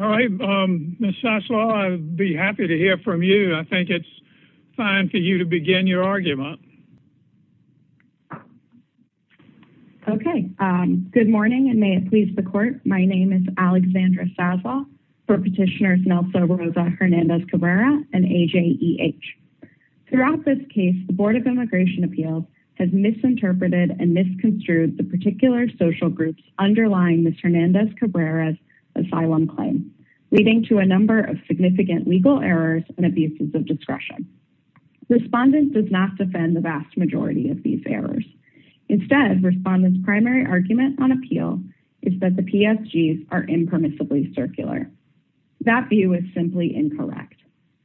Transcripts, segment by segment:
All right, Ms. Sazaw, I'd be happy to hear from you. I think it's time for you to begin your argument. Okay, good morning and may it please the court. My name is Alexandra Sazaw, for Petitioners Nelsa Rosa Hernandez-Cabrera and AJEH. Throughout this case, the Board of Immigration Appeals has misinterpreted and misconstrued the particular social groups underlying Ms. Hernandez-Cabrera's asylum claim, leading to a number of significant legal errors and abuses of discretion. Respondent does not defend the vast majority of these errors. Instead, respondent's primary argument on appeal is that the PSGs are impermissibly circular. That view is simply incorrect.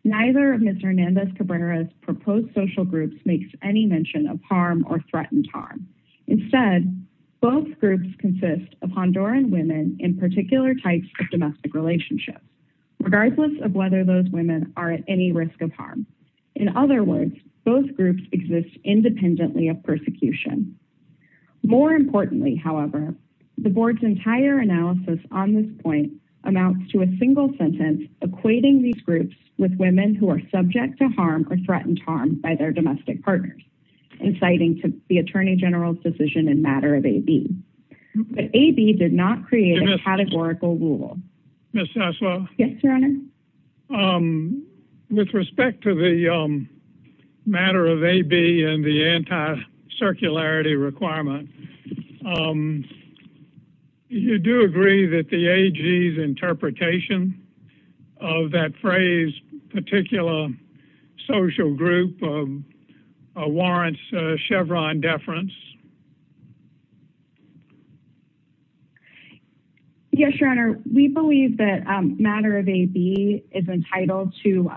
Neither of Ms. Hernandez-Cabrera's proposed social groups makes any mention of harm or threatened harm. Instead, both groups consist of Honduran women in particular types of domestic relationships, regardless of whether those women are at any risk of harm. In other words, both groups exist independently of persecution. More importantly, however, the Board's entire analysis on this point amounts to a single sentence equating these groups with women who are subject to harm or threatened harm by their domestic partners, inciting to the Attorney General's decision in matter of AB. But AB did not create a categorical rule. Ms. Sazaw? Yes, Your Honor? With respect to the matter of AB and the anti-circularity requirement, do you agree that the AG's interpretation of that phrase, particular social group, warrants Chevron deference? Yes, Your Honor. We believe that matter of AB is entitled to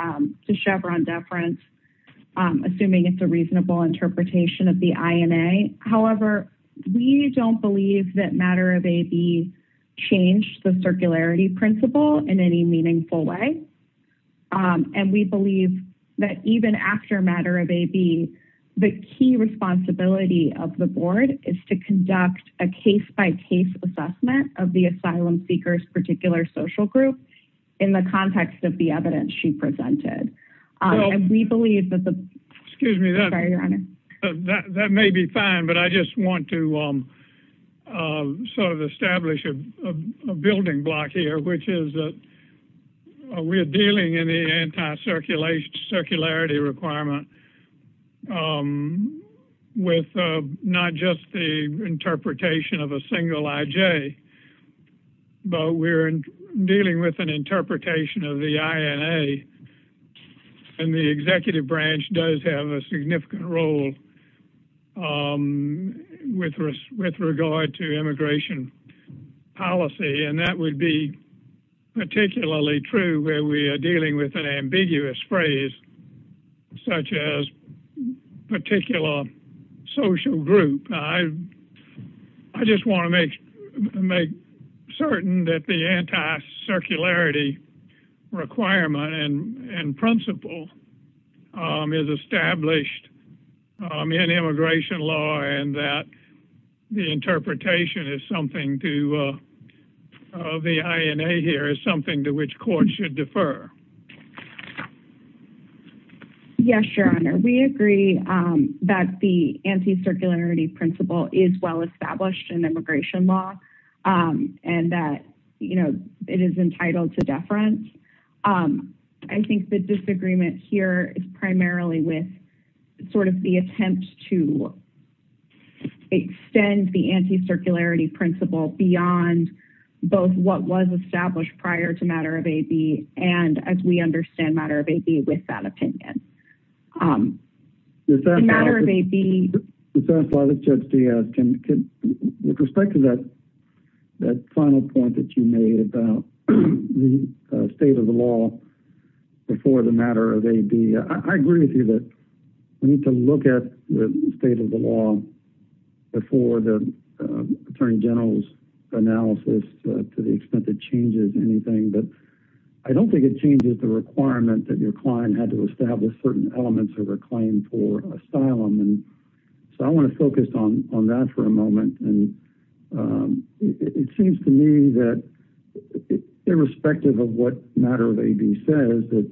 We don't believe that matter of AB changed the circularity principle in any meaningful way. And we believe that even after matter of AB, the key responsibility of the Board is to conduct a case-by-case assessment of the asylum seeker's particular social group in the context of the asylum. So to establish a building block here, which is that we're dealing in the anti-circularity requirement with not just the interpretation of a single IJ, but we're dealing with an interpretation of the INA. And the executive branch does have a with regard to immigration policy, and that would be particularly true when we are dealing with an ambiguous phrase such as particular social group. I just want to make certain that the anti-circularity requirement and principle is established in immigration law and that the interpretation of the INA here is something to which courts should defer. Yes, Your Honor. We agree that the anti-circularity principle is well established in immigration law and that it is entitled to deference. I think the disagreement here is primarily with sort of the attempt to extend the anti-circularity principle beyond both what was established prior to matter of AB and as we understand matter of AB with that opinion. With respect to that final point that you made about the state of the law before the matter of AB, I agree with you that we need to look at the state of the law before the attorney general's analysis to the extent it changes anything. But I don't think it changes the requirement that your client had to establish certain elements of their claim for asylum. And so I want to focus on that for a moment. And it seems to me that irrespective of what matter of AB says that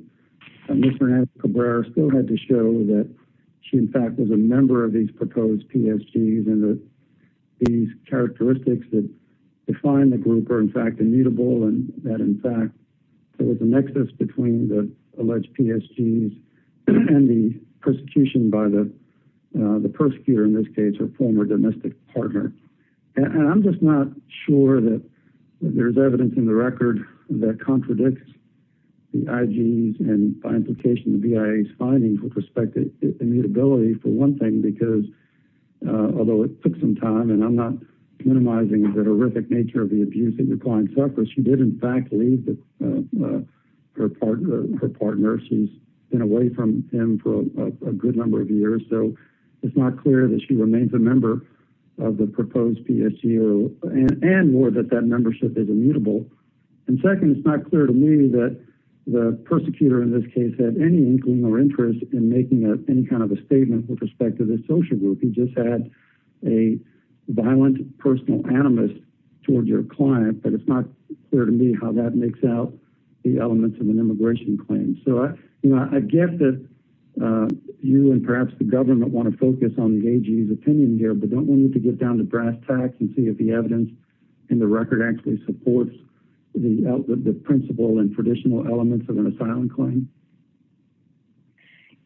still had to show that she in fact was a member of these proposed PSGs and that these characteristics that define the group are in fact immutable and that in fact there was a nexus between the alleged PSGs and the persecution by the persecutor, in this case her former domestic partner. And I'm just not sure that there's evidence in the record that contradicts the findings with respect to immutability for one thing because although it took some time and I'm not minimizing the horrific nature of the abuse that your client suffered, she did in fact leave her partner. She's been away from him for a good number of years. So it's not clear that she remains a member of the proposed PSG and more that that membership is immutable. And second, it's not clear to me that the persecutor in this case had any inkling or interest in making any kind of a statement with respect to this social group. You just had a violent personal animus toward your client, but it's not clear to me how that makes out the elements of an immigration claim. So I guess that you and perhaps the government want to focus on the AG's opinion here, but don't we need to get down to brass tacks and see if the the principle and traditional elements of an asylum claim?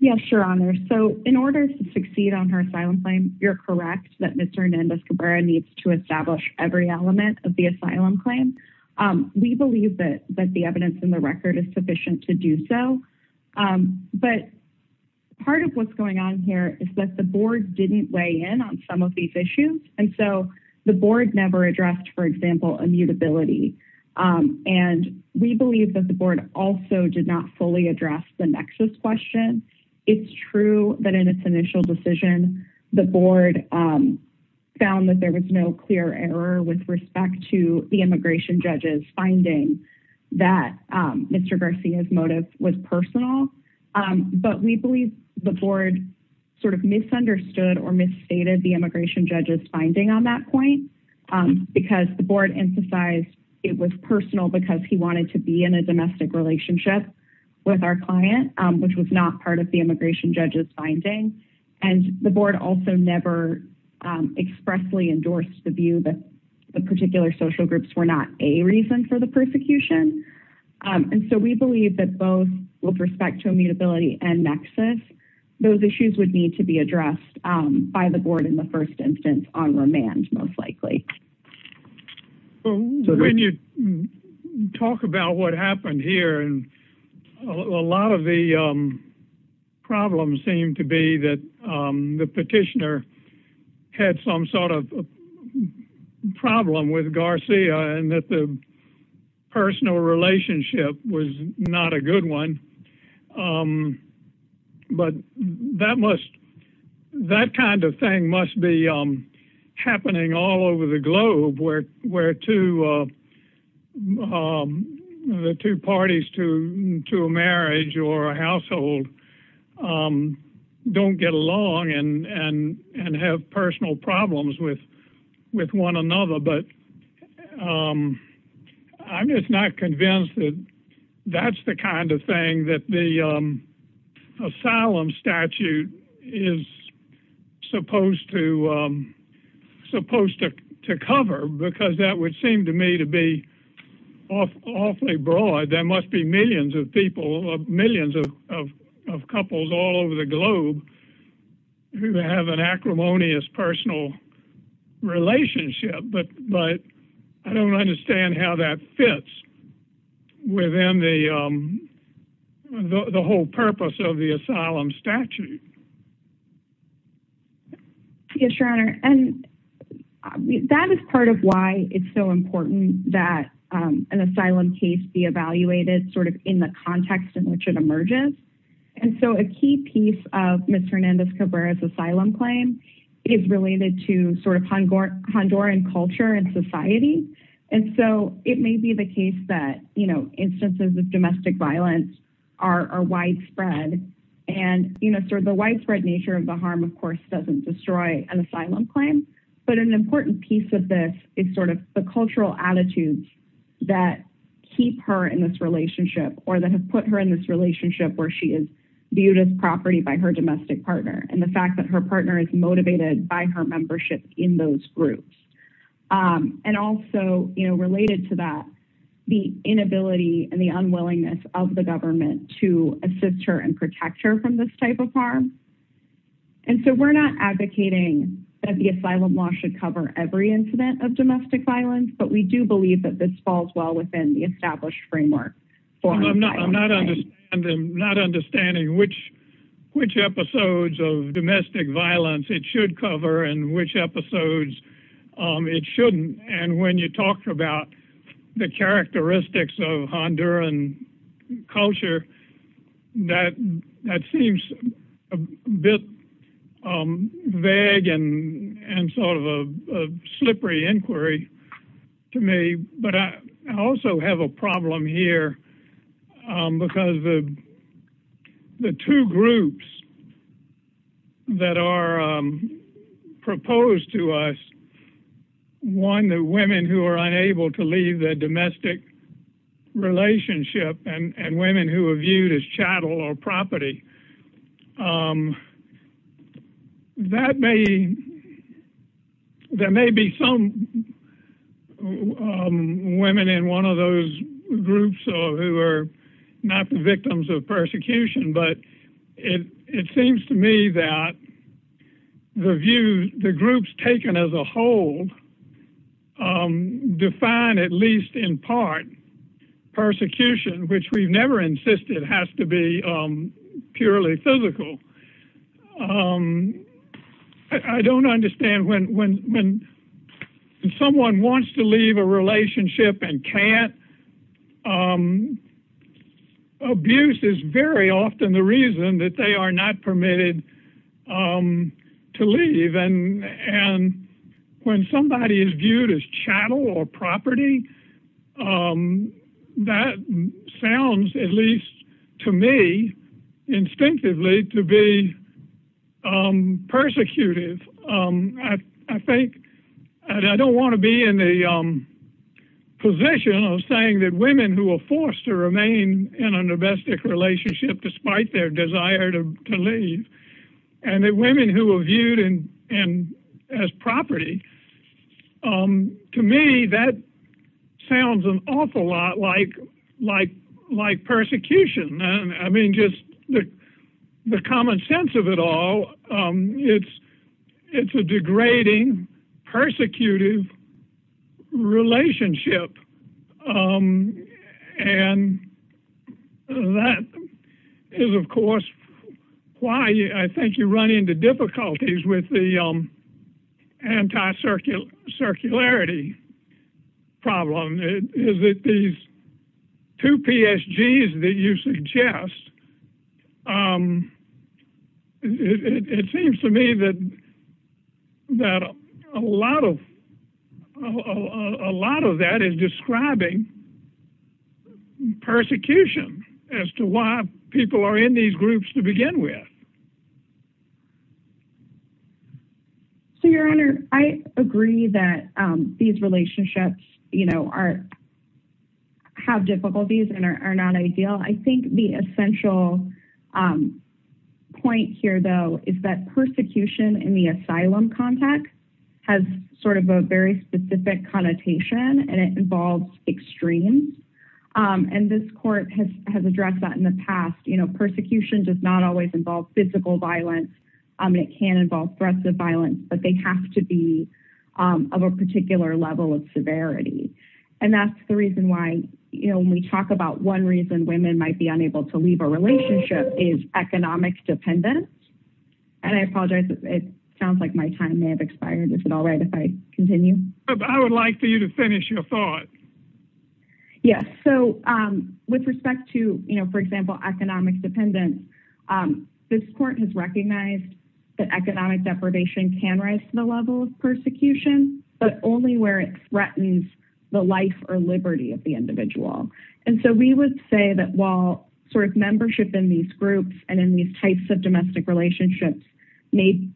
Yes, your honor. So in order to succeed on her asylum claim, you're correct that Mr. Hernandez Cabrera needs to establish every element of the asylum claim. We believe that the evidence in the record is sufficient to do so. But part of what's going on here is that the board didn't in on some of these issues. And so the board never addressed, for example, immutability. And we believe that the board also did not fully address the nexus question. It's true that in its initial decision, the board found that there was no clear error with respect to the immigration judges finding that Mr. Garcia's motive was personal. But we believe the board sort of misunderstood or misstated the immigration judges finding on that point, because the board emphasized it was personal because he wanted to be in a domestic relationship with our client, which was not part of the immigration judges finding. And the board also never expressly endorsed the view that the particular social groups were not a reason for persecution. And so we believe that both with respect to immutability and nexus, those issues would need to be addressed by the board in the first instance on remand, most likely. Well, when you talk about what happened here, and a lot of the problems seem to be that the petitioner had some sort of problem with Garcia and that the personal relationship was not a good one. But that kind of thing must be happening all over the globe where two parties to a marriage or a household don't get along and have personal problems with one another. But I'm just not convinced that that's the kind of thing that the asylum statute is supposed to cover, because that would seem to me to be awfully broad. There must be millions of people, millions of couples all over the globe who have an acrimonious personal relationship. But I don't understand how that fits within the whole purpose of the asylum statute. Yes, Your Honor. And that is part of why it's so important that an asylum case be evaluated sort of in the context in which it emerges. And so a key piece of Ms. Hernandez-Cabrera's asylum claim is related to sort of Honduran culture and society. And so it may be the case that, you know, domestic violence are widespread. And, you know, sort of the widespread nature of the harm, of course, doesn't destroy an asylum claim. But an important piece of this is sort of the cultural attitudes that keep her in this relationship or that have put her in this relationship where she is viewed as property by her domestic partner and the fact that her partner is motivated by her membership in those groups. And also, you know, related to that, the inability and the unwillingness of the government to assist her and protect her from this type of harm. And so we're not advocating that the asylum law should cover every incident of domestic violence, but we do believe that this falls well within the established framework. I'm not understanding which episodes of domestic violence it should cover and which episodes it shouldn't. And when you talk about the characteristics of Honduran culture, that seems a bit vague and sort of a slippery inquiry to me. But I also have a problem here because the two groups that are proposed to us, one, the women who are unable to leave the domestic relationship and women who are viewed as chattel or property, that may, there may be some women in one of those groups who are not the victims of persecution, but it seems to me that the groups taken as a whole define at least in part persecution, which we never insisted has to purely physical. I don't understand when someone wants to leave a relationship and can't, abuse is very often the reason that they are not permitted to leave. And when somebody is viewed chattel or property, that sounds at least to me instinctively to be persecuted. I don't want to be in the position of saying that women who are forced to remain in a domestic relationship despite their desire to leave and that women who are viewed as property to me, that sounds an awful lot like persecution. I mean, just the common sense of it all, it's a degrading, persecutive relationship. And that is of course why I think you run into difficulties with the anti-circularity problem is that these two PSGs that you suggest, it seems to me that a lot of that is describing persecution as to why people are in these groups to begin with. So your honor, I agree that these relationships have difficulties and are not ideal. I think the essential point here though, is that persecution in the asylum context has sort of a very specific connotation and it involves extremes. And this court has addressed that in the past. Persecution does not always involve physical violence. It can involve threats of violence, but they have to be of a particular level of severity. And that's the reason why, you know, when we talk about one reason women might be unable to leave a relationship is economic dependence. And I apologize, it sounds like my time may have expired. Is it all right if I continue? I would like for you to finish your thought. Yes. So with respect to, for example, economic dependence, this court has recognized that economic deprivation can rise to the level of persecution, but only where it threatens the life or liberty of the individual. And so we would say that while sort of membership in these groups and in these types of domestic relationships may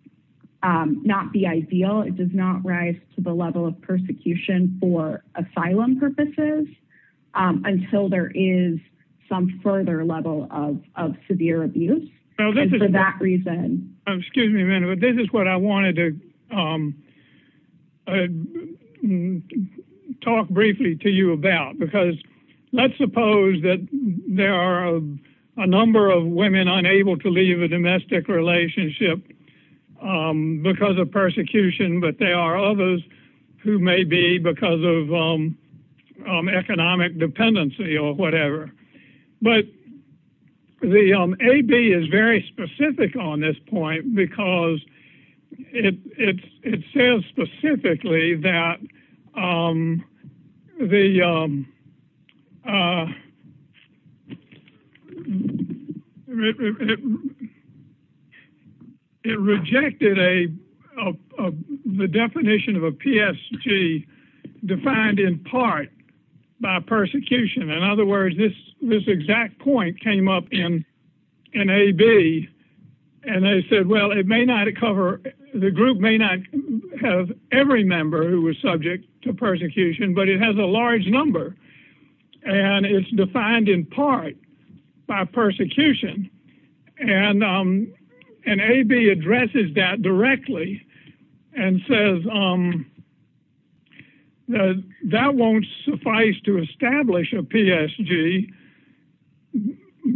not be ideal, it does not rise to the level of persecution for asylum purposes until there is some further level of severe abuse for that reason. Excuse me a minute, but this is what I wanted to talk briefly to you about, because let's suppose that there are a number of women unable to leave a domestic relationship because of persecution, but there are others who may be because of economic dependency or whatever. But the AB is very specific on this point because it says specifically that the, it rejected the definition of a PSG defined in part by persecution. In other words, this exact point came up in AB and they said, well, it may not cover, the group may not have every member who was subject to persecution, but it has a large number of women who are subject to persecution. It's a large number and it's defined in part by persecution. And AB addresses that directly and says, that won't suffice to establish a PSG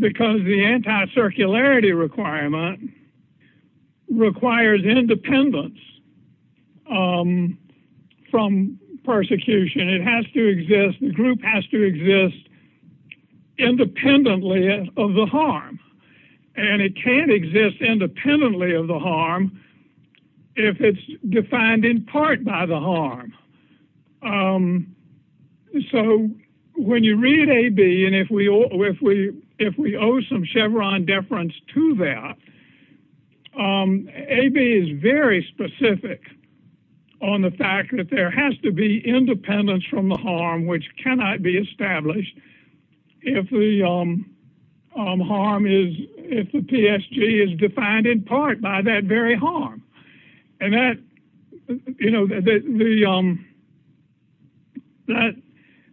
because the anti-circularity requirement requires independence from persecution. It has to exist, the group has to exist independently of the harm and it can't exist independently of the harm if it's defined in part by the harm. So when you read AB and if we owe some Chevron deference to that, AB is very specific on the fact that there has to be independence from the harm, which cannot be established if the harm is, if the PSG is defined in part by that very harm. And that, you know,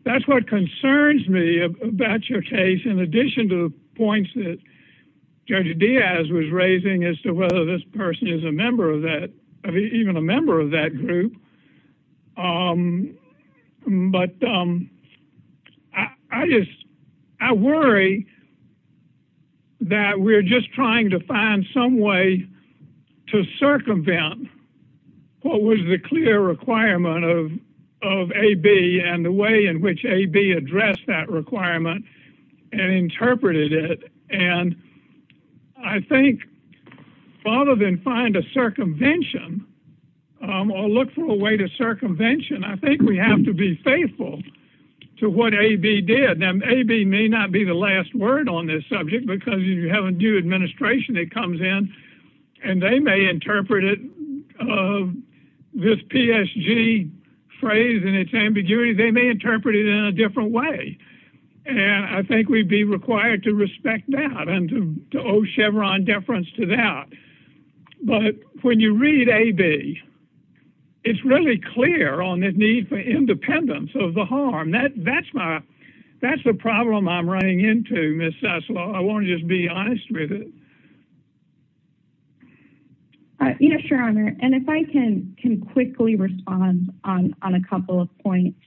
that's what concerns me about your case in addition to points that Judge Diaz was raising as to whether this person is a member of that, even a member of that group. But I just, I worry that we're just trying to find some way to circumvent what was the clear requirement of AB and the way in which AB addressed that and I think rather than find a circumvention or look for a way to circumvention, I think we have to be faithful to what AB did. Now AB may not be the last word on this subject because if you have a new administration that comes in and they may interpret it, this PSG phrase and its ambiguity, they may interpret it in a different way. And I think we'd be required to respect that and to owe Chevron deference to that. But when you read AB, it's really clear on the need for independence of the harm. That's my, that's the problem I'm running into Ms. Sessler. I want to just be honest with it. You know, sure. And if I can quickly respond on a couple of points.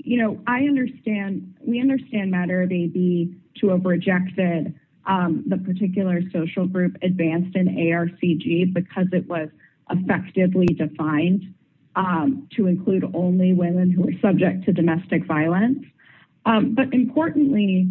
You know, I understand, we understand matter of AB to have rejected the particular social group advanced in ARCG because it was effectively defined to include only women who were subject to domestic violence. But importantly,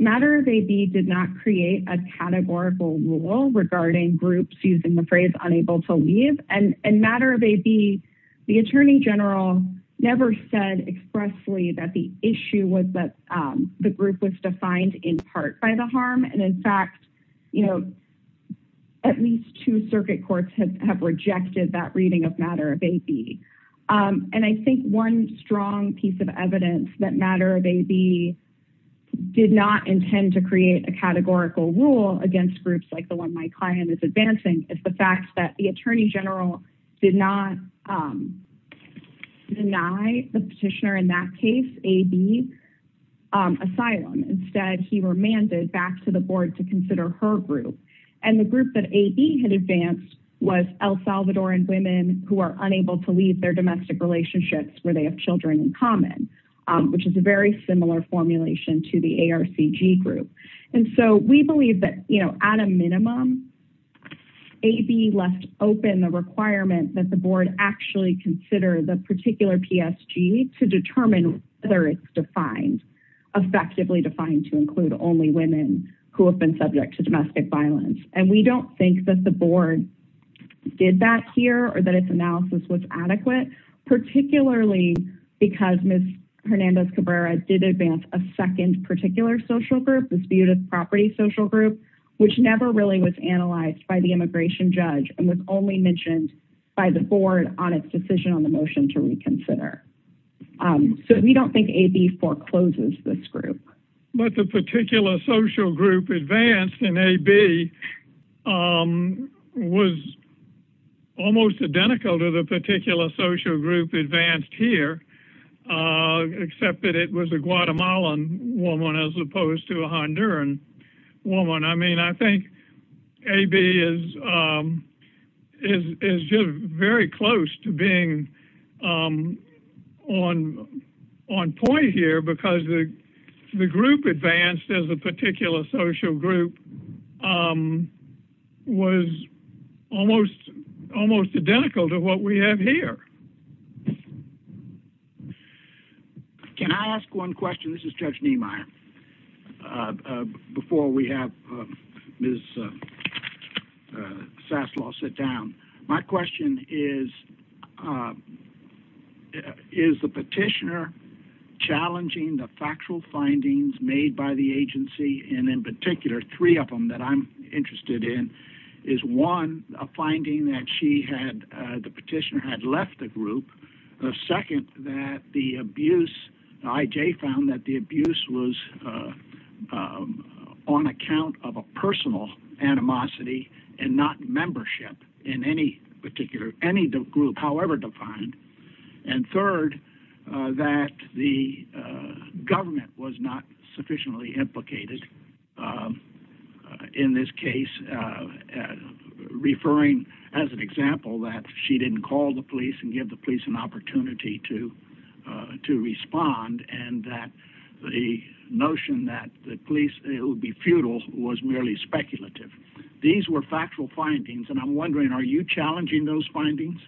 matter of AB did not create a categorical rule regarding groups using the phrase unable to leave. And matter of AB, the attorney general never said expressly that the issue was that the group was defined in part by the harm. And in fact, you know, at least two circuit courts have rejected that reading of matter of AB. And I think one strong piece of evidence that matter of AB did not intend to create a categorical rule against groups like the one my client is advancing is the fact that the attorney general did not deny the petitioner in that case, AB, asylum. Instead, he remanded back to the board to consider her group. And the group that AB had advanced was El Salvadoran women who are unable to leave their domestic relationships where they have children in common, which is a very similar formulation to the ARCG group. And so we believe that, you know, at a minimum, AB left open the requirement that the board actually consider the particular PSG to determine whether it's defined, effectively defined to include only women who have been subject to domestic violence. And we don't think that the board did that here or that its analysis was a second particular social group, the disputed property social group, which never really was analyzed by the immigration judge and was only mentioned by the board on its decision on the motion to reconsider. So we don't think AB forecloses this group. But the particular social group advanced in AB was almost identical to the particular social group advanced here, except that it was a Guatemalan woman as opposed to a Honduran woman. I mean, I think AB is just very close to being on point here because the group advanced as a particular social group was almost identical to what we have here. Can I ask one question? This is Judge Niemeyer. Before we have Ms. Sassler sit down, my question is, is the petitioner challenging the factual findings made by the agency? And in particular, three of them that I'm interested in is one, a finding that she had, the petitioner had left the group. The second, that the abuse, the IJ found that the abuse was on account of a personal animosity and not membership in any particular, any group, however defined. And third, that the government was not sufficiently implicated in this case, referring as an example that she didn't call the police and give the police an opportunity to respond. And that the notion that the police, it would be futile, was merely speculative. These were factual findings. And I'm wondering, are you challenging those findings?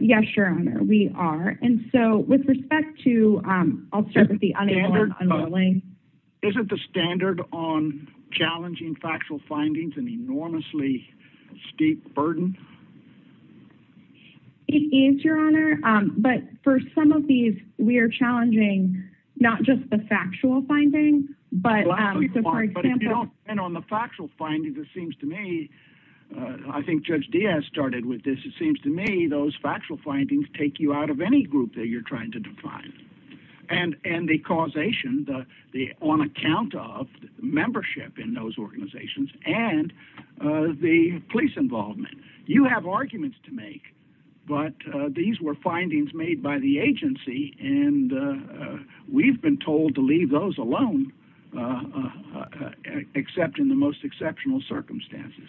Yes, Your Honor, we are. And so with respect to, I'll start with the underlying. Isn't the standard on challenging factual findings an enormously steep burden? It is, Your Honor. But for some of these, we are challenging not just the factual findings, but- But on the factual findings, it seems to me, I think Judge Diaz started with this. It seems to me those factual findings take you out of any group that you're trying to define. And the causation, the on account of membership in those organizations and the police involvement, you have arguments to make, but these were findings made by the agency. And we've been told to leave those alone, except in the most exceptional circumstances.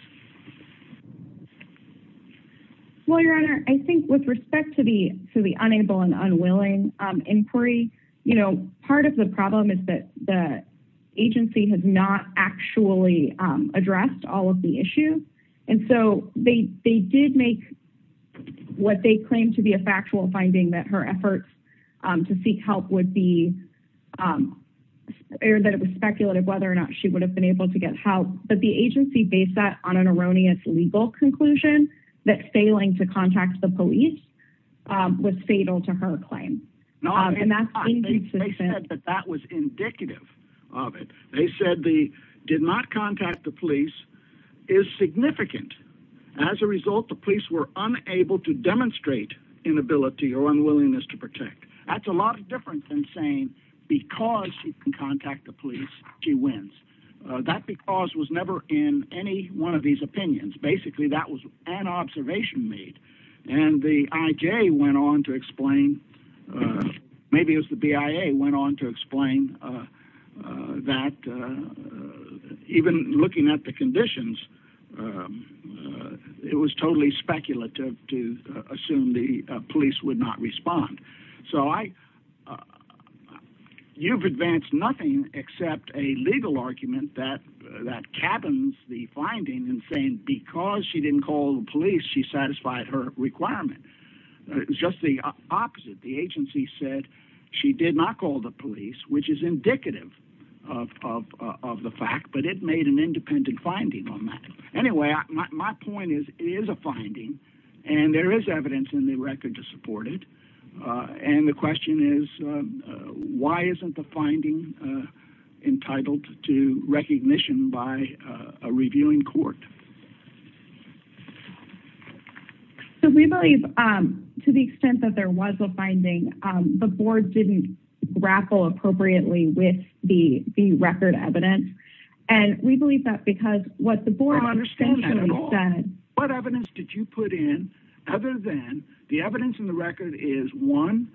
Well, Your Honor, I think with respect to the unable and unwilling inquiry, part of the problem is that the agency has not actually addressed all of the issues. And so they did make what they claimed to be a factual finding that her efforts to seek help would be, or that it was speculative whether or not she would have been able to get help. But the agency based that on an erroneous legal conclusion that failing to contact the police was fatal to her claim. No, I think they said that that was indicative of it. They said the did not contact the police is significant. As a result, the police were unable to demonstrate inability or unwillingness to protect. That's a lot different than saying, because she can contact the police, she wins. That because was never in any one of these opinions. Basically, that was an observation made. And the IJ went on to explain, maybe it was the BIA went on to explain that even looking at the conditions, it was totally speculative to assume the police would not respond. So you've advanced nothing except a legal argument that captains the finding and saying, because she didn't call the police, she satisfied her requirement. It was just the opposite. The agency said she did not call the police, which is indicative of the fact that it made an independent finding on that. Anyway, my point is, it is a finding and there is evidence in the record to support it. And the question is, why isn't the reviewing court? So we believe to the extent that there was a finding, the board didn't grapple appropriately with the record evidence. And we believe that because what the board what evidence did you put in other than the evidence in the record is one,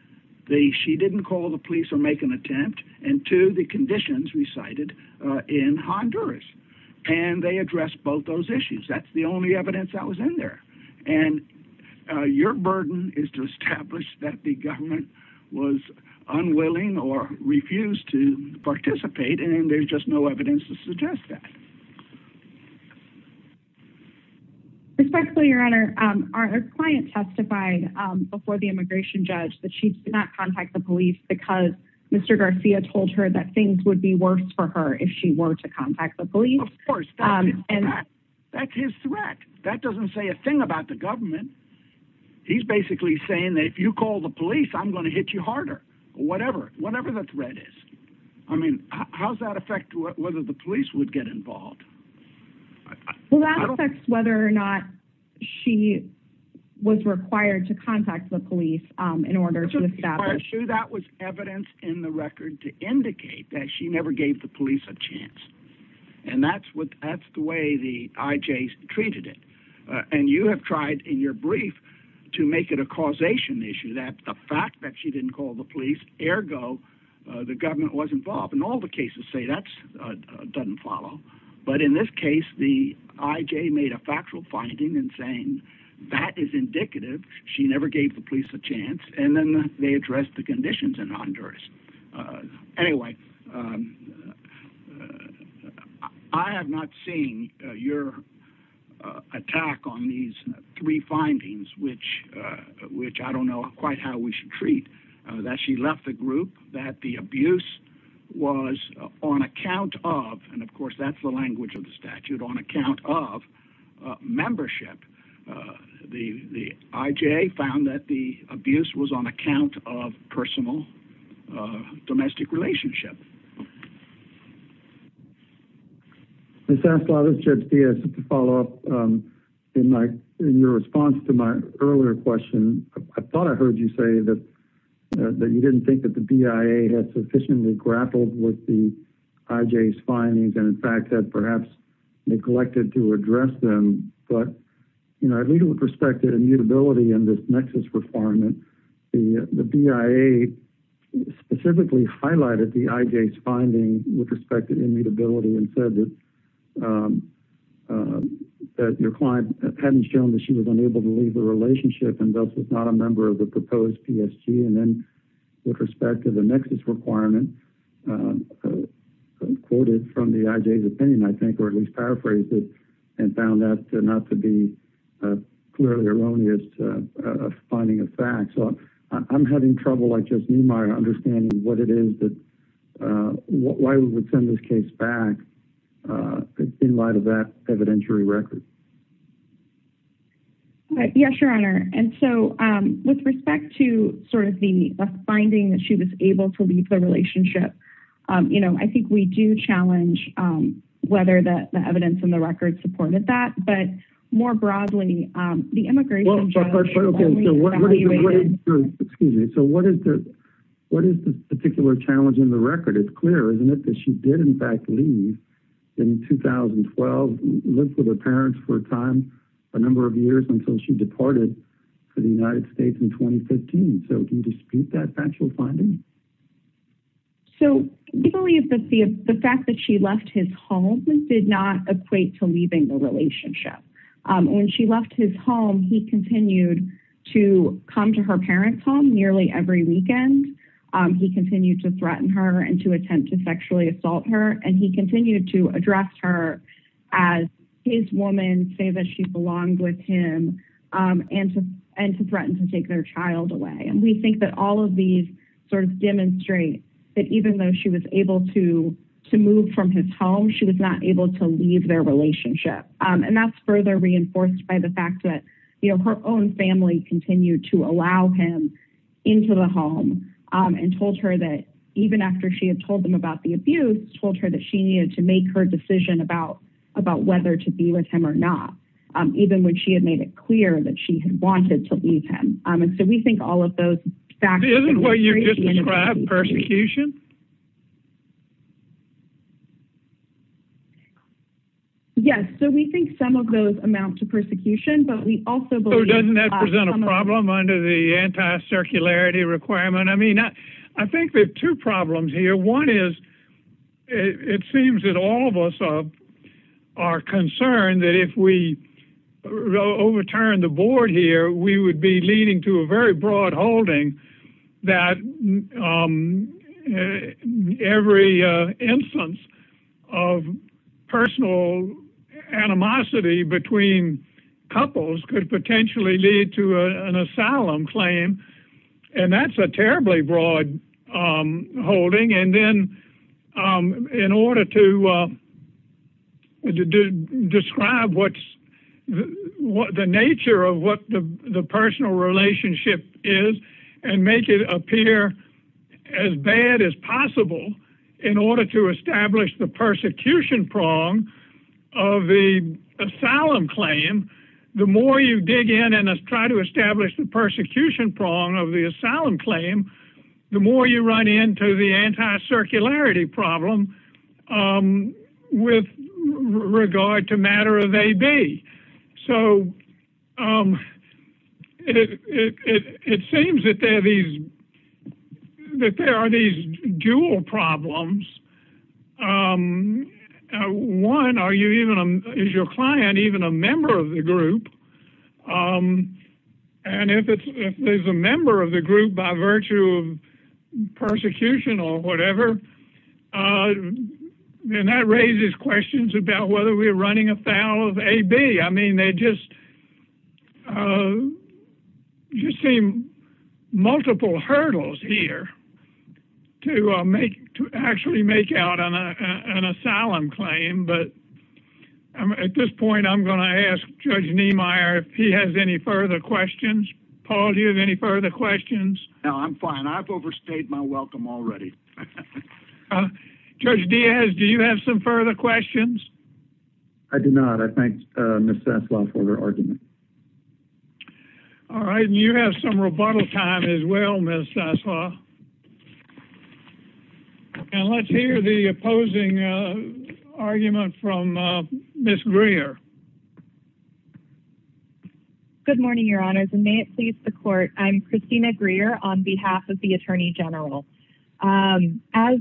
she didn't call the police or make an attempt and two, the conditions recited in Honduras. And they addressed both those issues. That's the only evidence that was in there. And your burden is to establish that the government was unwilling or refused to participate. And there's just no evidence to suggest that. Especially your honor, our client testified before the immigration judge that she did not contact the police because Mr. Garcia told her that things would be worse for her if she were to contact the police. And that's his threat. That doesn't say a thing about the government. He's basically saying that if you call the police, I'm going to hit you harder, whatever, whatever the threat is. I mean, how's that affect whether the police would get involved? Well, that's whether or not she was required to contact the police in order to establish sure that was evidence in the record to indicate that she never gave the police a chance. And that's what that's the way the IJs treated it. And you have tried in your brief to make it a causation issue that the fact that she didn't call the police ergo, the government was involved in all the cases say that doesn't follow. But in this case, the IJ made a factual finding and saying that is indicative. She never gave the police a chance. And then they addressed the conditions in Honduras. Anyway, I have not seen your attack on these three findings, which I don't know quite how we should treat that she left the group that the abuse was on account of. And of course, that's the language of the statute on account of membership. The IJ found that the abuse was on account of personal domestic relationship. I thought I heard you say that you didn't think that the BIA had sufficiently grappled with the IJs findings and in fact, that perhaps neglected to address them. But, you know, I think with respect to the mutability and this nexus requirement, the BIA specifically highlighted finding with respect to immutability and said that your client hadn't shown that she was unable to leave the relationship and thus was not a member of the proposed PSG. And then with respect to the nexus requirement quoted from the IJ's opinion, I think, or at least paraphrase it and found that not to be clearly erroneous finding of facts. So I'm having trouble like just understanding what it is that why we would send this case back in light of that evidentiary record. Yes, your honor. And so with respect to sort of the finding that she was able to leave the relationship, you know, I think we do challenge whether the evidence and the record supported that. But more broadly, the immigration... Excuse me. So what is the particular challenge in the record? It's clear, isn't it, that she did in fact leave in 2012, lived with her parents for a time, a number of years until she departed for the United States in 2015. So can you dispute that factual finding? So the fact that she left his home did not equate to leaving the relationship. And when she left his home, he continued to come to her parents' home nearly every weekend. He continued to threaten her and to attempt to sexually assault her. And he continued to address her as his woman, say that she belonged with him, and to threaten to take their child away. And we think that all of these sort of demonstrate that even though she was able to move from his she was not able to leave their relationship. And that's further reinforced by the fact that, you know, her own family continued to allow him into the home and told her that even after she had told them about the abuse, told her that she needed to make her decision about whether to be with him or not, even when she had made it clear that she had wanted to leave him. And so we think all of those facts... Isn't what you're describing persecution? Yes, so we think some of those amount to persecution, but we also believe... So doesn't that present a problem under the anti-circularity requirement? I mean, I think there are two problems here. One is, it seems that all of us are concerned that if we overturn the board here, we would be leading to a very broad holding that every instance of personal animosity between couples could potentially lead to an asylum claim. And that's a terribly broad holding. And then in order to describe what's the nature of what the personal relationship is and make it appear as bad as possible in order to establish the persecution prong of the asylum claim, the more you dig in and try to establish the persecution prong of the asylum claim, the more you run into the anti-circularity problem with regard to matter of A, B. So it seems that there are these dual problems. One, is your client even a member of the group? And if there's a member of the group by virtue of persecution or whatever, then that raises questions about whether we're running a B, B. I mean, they just seem multiple hurdles here to actually make out an asylum claim. But at this point, I'm going to ask Judge Niemeyer if he has any further questions. Paul, do you have any further questions? No, I'm fine. I've overstayed my welcome already. All right. Judge Diaz, do you have some further questions? I do not. I thank Ms. Sessla for her argument. All right. And you have some rebuttal time as well, Ms. Sessla. And let's hear the opposing argument from Ms. Greer. Good morning, your honors, and may it please the court. I'm Christina Greer on behalf of the As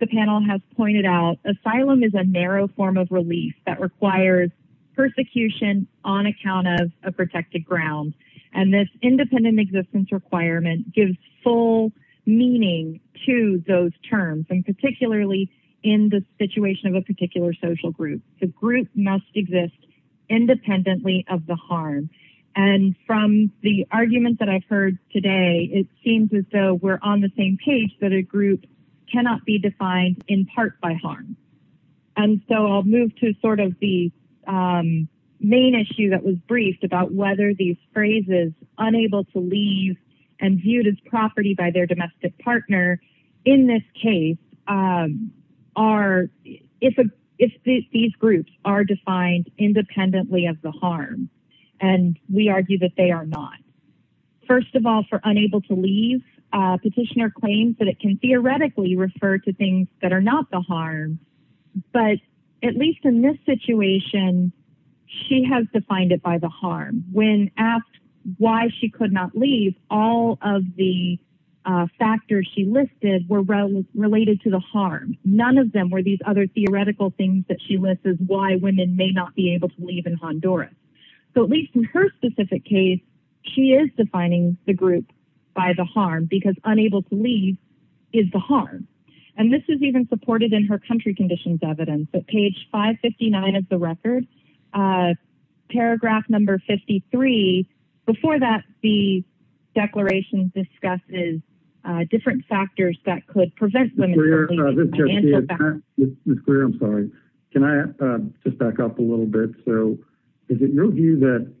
the panel has pointed out, asylum is a narrow form of relief that requires persecution on account of a protected ground. And this independent existence requirement gives full meaning to those terms, and particularly in the situation of a particular social group. The group must exist independently of the harm. And from the argument that I've heard today, it seems as though we're on the same page, that a group cannot be defined in part by harm. And so I'll move to sort of the main issue that was briefed about whether these phrases, unable to leave and viewed as property by their domestic partner, in this case, if these groups are defined independently of the harm. And we argue that they are not. First of all, for unable to leave, petitioner claims that it can theoretically refer to things that are not the harm. But at least in this situation, she has defined it by the harm. When asked why she could not leave, all of the factors she listed were related to the harm. None of them were these other theoretical things that she lists as why may not be able to leave in Honduras. So at least in her specific case, she is defining the group by the harm, because unable to leave is the harm. And this is even supported in her country conditions evidence at page 559 of the record, paragraph number 53. Before that, the declaration discusses different factors that could prevent them. Mr. Greer, I'm sorry. Can I just back up a little bit? So is it your view that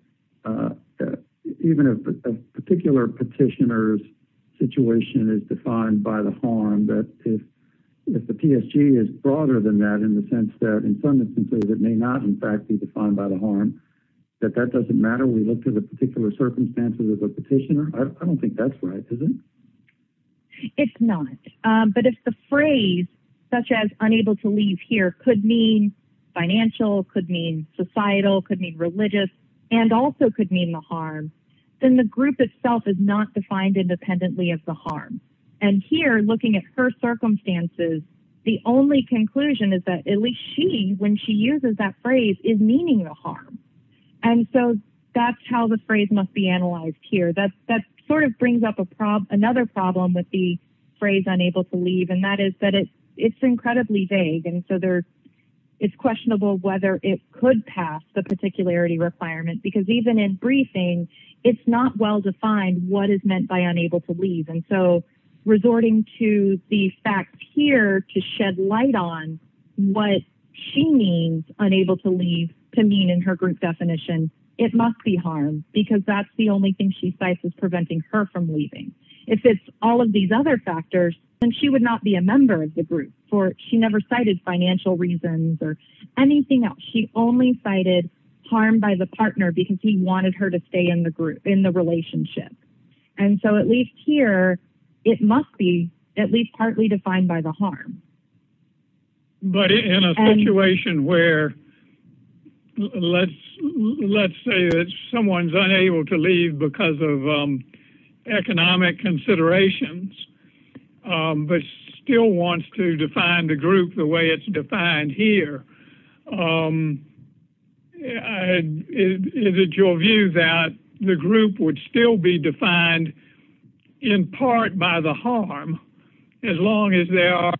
even if a particular petitioner's situation is defined by the harm, that if the PSG is broader than that in the sense that in some instances it may not in fact be defined by the harm, that that doesn't matter? We looked at a particular circumstance with the petitioner? I don't think that's right, is it? It's not. But if the phrase such as unable to leave here could mean financial, could mean societal, could mean religious, and also could mean the harm, then the group itself is not defined independently of the harm. And here, looking at her circumstances, the only conclusion is that at least she, when she uses that phrase, is meaning the harm. And so that's how the phrase must be analyzed here. That sort of brings up another problem with the phrase unable to leave, and that is that it's incredibly vague. And so it's questionable whether it could pass the particularity requirement. Because even in briefing, it's not well defined what is meant by unable to leave. And so resorting to the fact here to shed light on what she means, unable to leave, to mean in her group preventing her from leaving. If it's all of these other factors, then she would not be a member of the group. She never cited financial reasons or anything else. She only cited harm by the partner because he wanted her to stay in the group, in the relationship. And so at least here, it must be at least partly defined by the harm. But in a situation where, let's say someone's unable to leave because of economic considerations, but still wants to define the group the way it's defined here, is it your view that the group would still be defined in part by the harm, as long as there are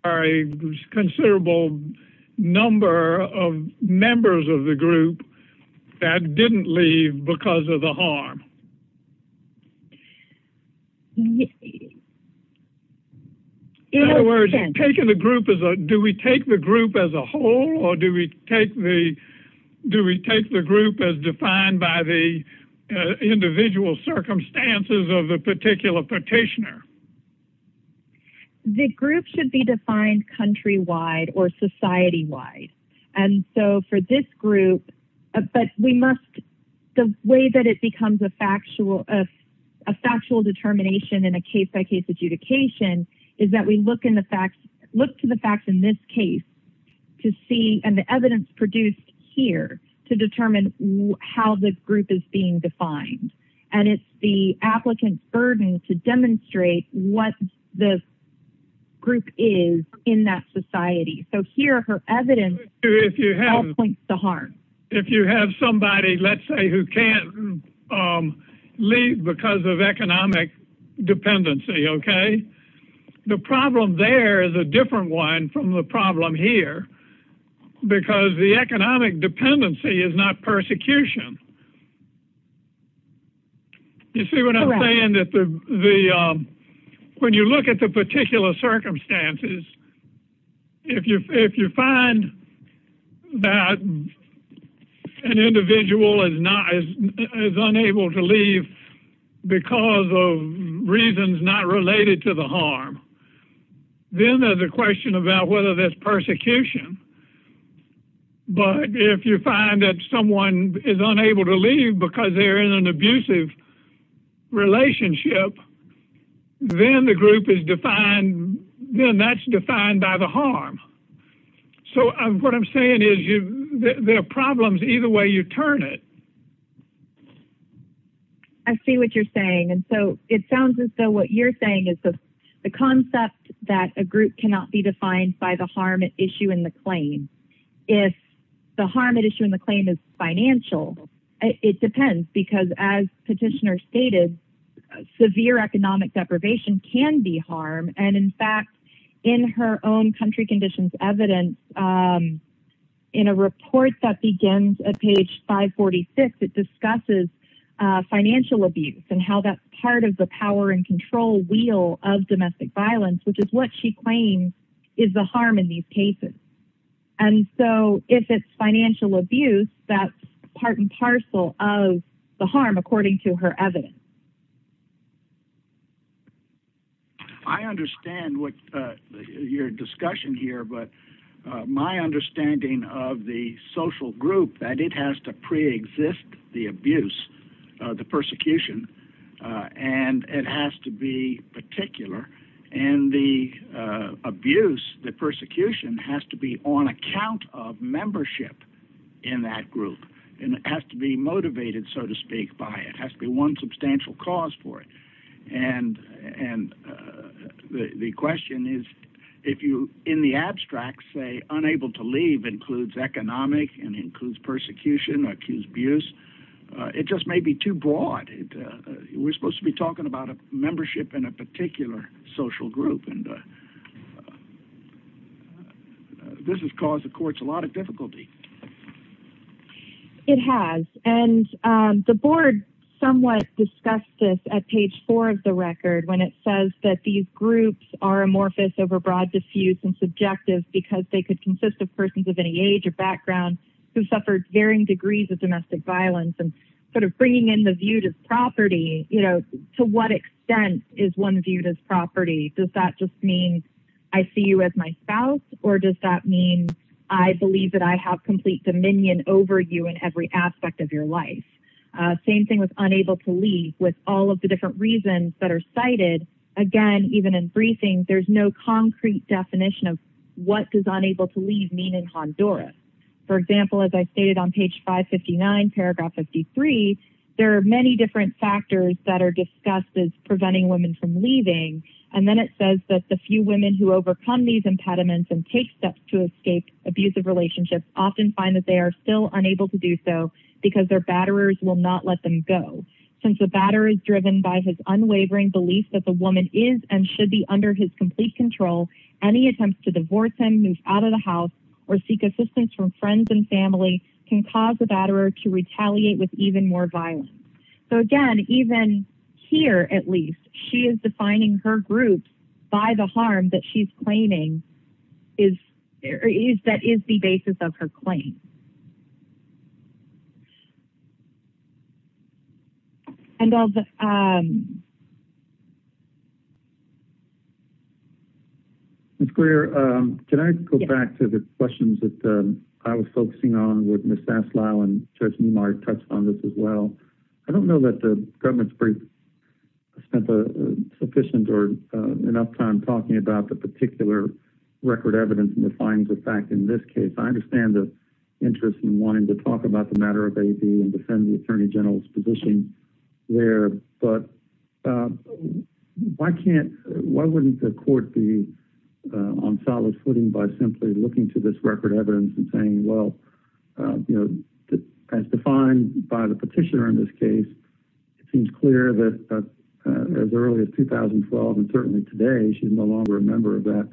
considerable number of members of the group that didn't leave because of the harm? In other words, do we take the group as a whole or do we take the group as defined by the individual circumstances of the particular petitioner? The group should be defined countrywide or society-wide. And so for this group, but we must, the way that it becomes a factual determination in a case-by-case adjudication is that we look to the facts in this case to see, and the evidence produced here to determine how the group is being defined. And it's the applicant's burden to demonstrate what the group is in that society. So here, her evidence points to harm. If you have somebody, let's say, who can't leave because of economic dependency, okay? The problem there is a different one from the problem here, because the economic dependency is not persecution. You see what I'm saying? When you look at the particular circumstances, if you find that an individual is unable to leave because of reasons not related to the harm, then there's a question about whether there's persecution. But if you find that someone is unable to leave because they're in an abusive relationship, then the group is defined, then that's defined by the harm. So what I'm saying is there are problems either way you turn it. I see what you're saying. And so it sounds as though what you're saying is the concept that a group cannot be defined by the harm at issue in the claim. If the harm at issue in the claim is financial, it depends, because as Petitioner stated, severe economic deprivation can be harm. And in fact, in her own country conditions evidence, in a report that begins at page 546, it discusses financial abuse and how that's part of the power and control wheel of domestic violence, which is what she claims is the harm in these cases. And so if it's financial abuse, that's part and parcel of the harm, according to her evidence. I understand what your discussion here, but my understanding of the social group that it has to pre-exist the abuse, the persecution, and it has to be particular. And the abuse, the persecution has to be on account of membership in that group. And it has to be motivated, so to speak, by it. It has to be one substantial cause for it. And the question is, if you, in the abstract, say unable to leave includes economic and includes persecution, accused abuse, it just may be too broad. We're supposed to be talking about a membership in a particular social group, and this has caused the courts a lot of difficulty. It has. And the board somewhat discussed this at page 4 of the record, when it says that these groups are amorphous, overbroad, diffuse, and subjective, because they could consist of persons of any age or background who suffered varying degrees of domestic violence. And sort of bringing in the view to property, you know, to what extent is one viewed as property? Does that just mean I see you as my spouse, or does that mean I believe that I have complete dominion over you in every aspect of your life? Same thing with unable to leave, with all of the different reasons that are cited. Again, even in briefings, there's no concrete definition of what does unable to leave mean in Honduras. For example, as I stated on page 559, paragraph 53, there are many different factors that are discussed as preventing women from leaving. And then it says that the few women who overcome these impediments and take steps to escape abusive relationships often find that they are still unable to do so because their batterers will not let them go. Since the batterer is driven by his unwavering belief that the woman is and should be under his complete control, any attempts to divorce him, move out of the house, or seek assistance from friends and family can cause the even here, at least, she is defining her group by the harm that she's claiming is, that is the basis of her claim. And all the... Ms. Greer, can I go back to the questions that I was focusing on with Ms. Daslow and Judge Neumark touched on this as well? I don't know that the government's brief spent sufficient or enough time talking about the particular record evidence and the fines of fact in this case. I understand the interest in wanting to talk about the matter of AB and defend the attorney general's position there, but why can't, why wouldn't the court be on solid footing by simply looking to this record evidence and saying, well, you know, as defined by the petitioner in this case, it seems clear that as early as 2012 and certainly today, she's no longer a member of that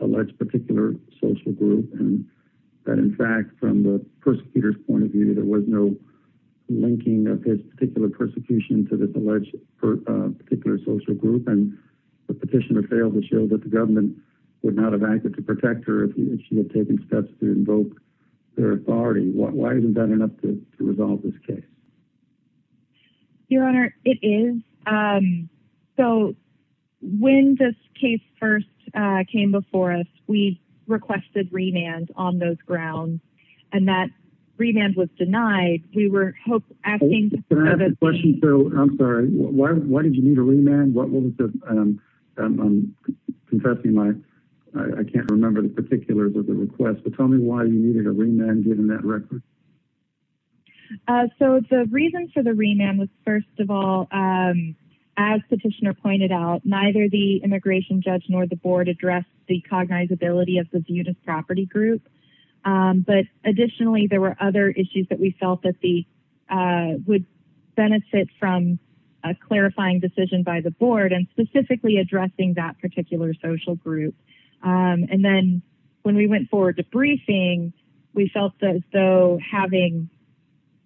alleged particular social group. And that in fact, from the persecutor's point of view, there was no linking of this particular persecution to this alleged particular social group. And the petitioner failed to show that the government would not have acted to protect her if she had taken steps to invoke their authority. Why isn't that enough to resolve this case? Your Honor, it is. So when this case first came before us, we requested remand on those grounds and that remand was denied. We were hoping... Can I ask a question? I'm sorry. Why did you need a remand? What was the, I'm confessing my, I can't remember the particulars of the request, but tell me why you needed a remand given that record. So the reason for the remand was first of all, as petitioner pointed out, neither the immigration judge nor the board addressed the cognizability of the Zeudis property group. But additionally, there were other issues that we felt that would benefit from a clarifying decision by the board and specifically addressing that particular social group. And then when we went forward to briefing, we felt as though having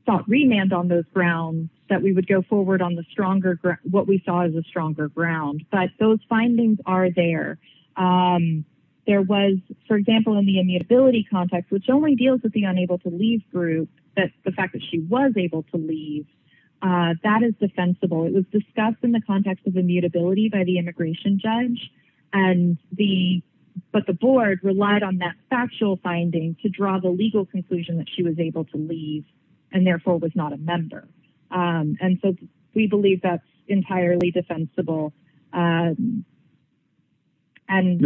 thought remand on those grounds, that we would go forward on the stronger, what we saw as a stronger ground. But those findings are there. There was, for example, in the immutability context, which only deals with the unable to leave group, that the fact that she was able to leave, that is defensible. It was discussed in the context of immutability by the immigration judge. And the, but the board relied on that factual finding to draw the legal conclusion that she was able to leave and therefore was not a member. And so we believe that's entirely defensible. And in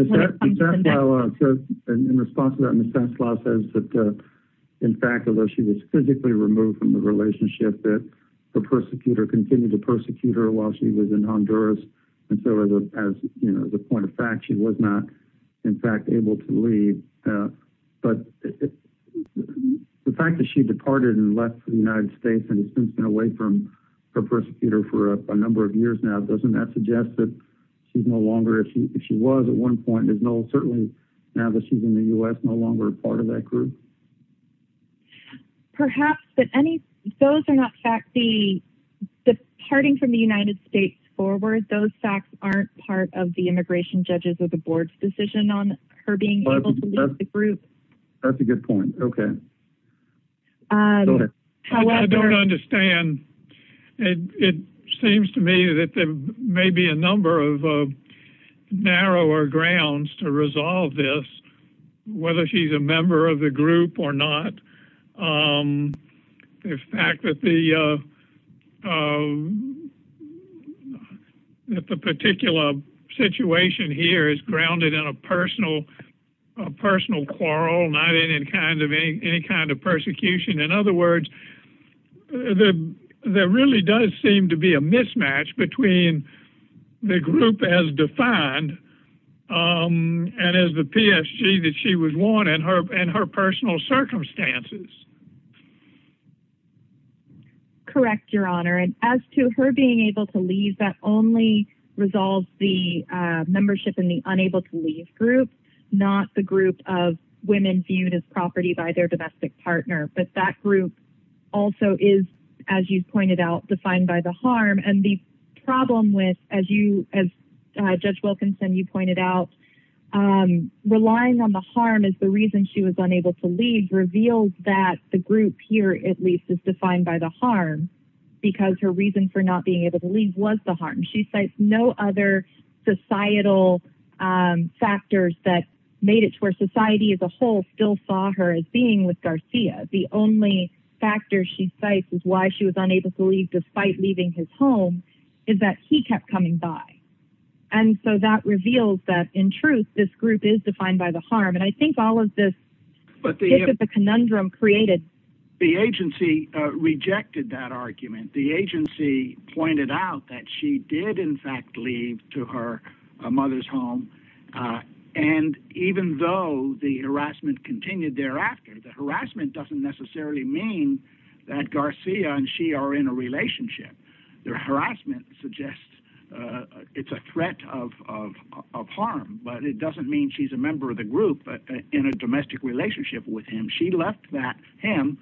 response to that, Ms. Hemslaw says that in fact, although she was physically removed from the relationship, that the persecutor continued to persecute her while she was in Honduras. And so as, you know, the point of fact, she was not in fact able to leave. But the fact that she departed and left for the United States and has since been away from her persecutor for a number of years now, doesn't that suggest that she's no longer, if she was at one point, there's no, certainly now that she's in the U.S. no longer a part of that group. Perhaps that any, those are not facts. The departing from the United States forward, those facts aren't part of the immigration judges or the board's decision on her being able to leave the group. That's a good point. Okay. I don't understand. It seems to me that there may be a number of narrower grounds to resolve this, whether she's a member of the group or not. The fact that the particular situation here is grounded in a personal quarrel, not any kind of persecution. In other words, there really does seem to be a mismatch between the group as defined and as the PSG that she was worn in her personal circumstances. Correct, your honor. And as to her being able to leave, that only resolves the membership in the unable to leave group, not the group of women viewed as property by their domestic partner. But that group also is, as you pointed out, defined by the harm. And the problem with, as you, as Judge Wilkinson, you pointed out, relying on the harm is the reason she was unable to leave reveals that the group here at least is defined by the harm. Because her reason for not being able to leave was the harm. She said no other societal factors that made it to her society as a whole still saw her as being with Garcia. The only factor she cites is why she was unable to leave despite leaving his home is that he kept coming by. And so that reveals that in truth, this group is defined by the harm. And I think all of this, but this is a conundrum created. The agency rejected that argument. The agency pointed out that she did in fact leave to her mother's home. And even though the harassment continued thereafter, the harassment doesn't necessarily mean that Garcia and she are in a relationship. Their harassment suggests it's a threat of harm, but it doesn't mean she's a member of the group, but in a domestic relationship with him, she left that him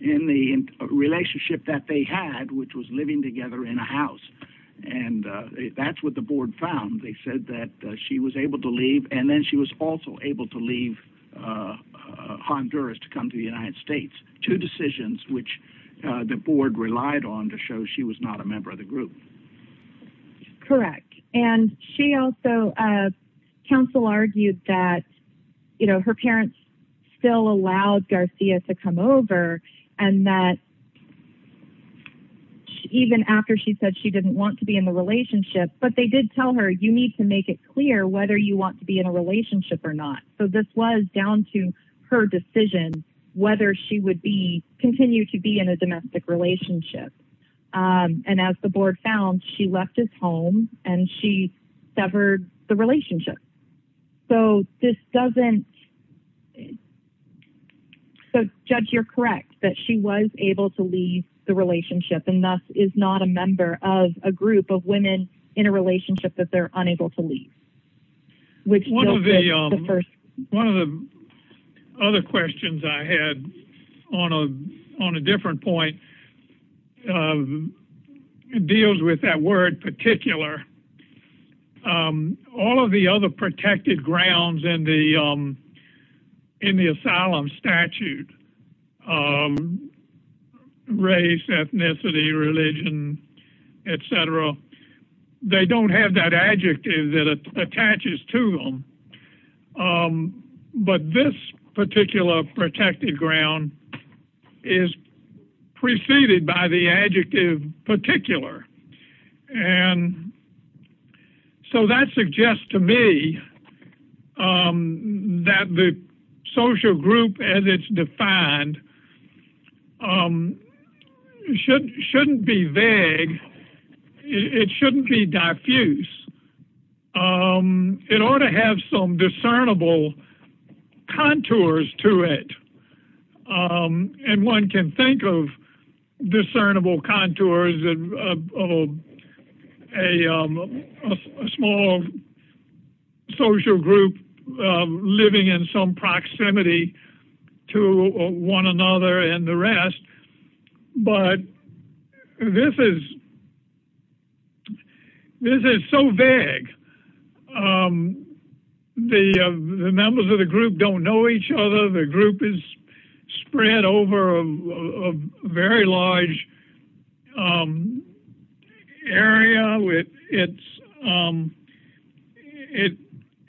in the relationship that they had, which was living together in a house. And that's what the board found. They said that she was able to leave. And then she was also able to leave Honduras to come to the United States, two decisions, which the board relied on to show she was not a member of the group. Correct. And she also counsel argued that, you know, her parents still allowed Garcia to come over and that even after she said she didn't want to be in the relationship, but they did tell her you need to make it clear whether you want to be in a relationship or not. So this was down to her decision, whether she would be continued to be in a domestic relationship. And as the board found, she left his home and she severed the relationship. So this doesn't, so judge, you're correct that she was able to leave the relationship and that is not a member of a group of women in a relationship that they're unable to leave. One of the other questions I had on a different point deals with that word particular. All of the other protected grounds in the asylum statute, race, ethnicity, religion, et cetera, they don't have that adjective that attaches to them. But this particular protected ground is preceded by the adjective particular. And so that suggests to me that the social group as it's defined shouldn't be vague. It shouldn't be diffuse. It ought to have some discernible contours to it. And one can think of discernible contours of a small social group living in some proximity to one another and the rest. But this is so vague. The members of the group don't know each other. The group is spread over a very large area.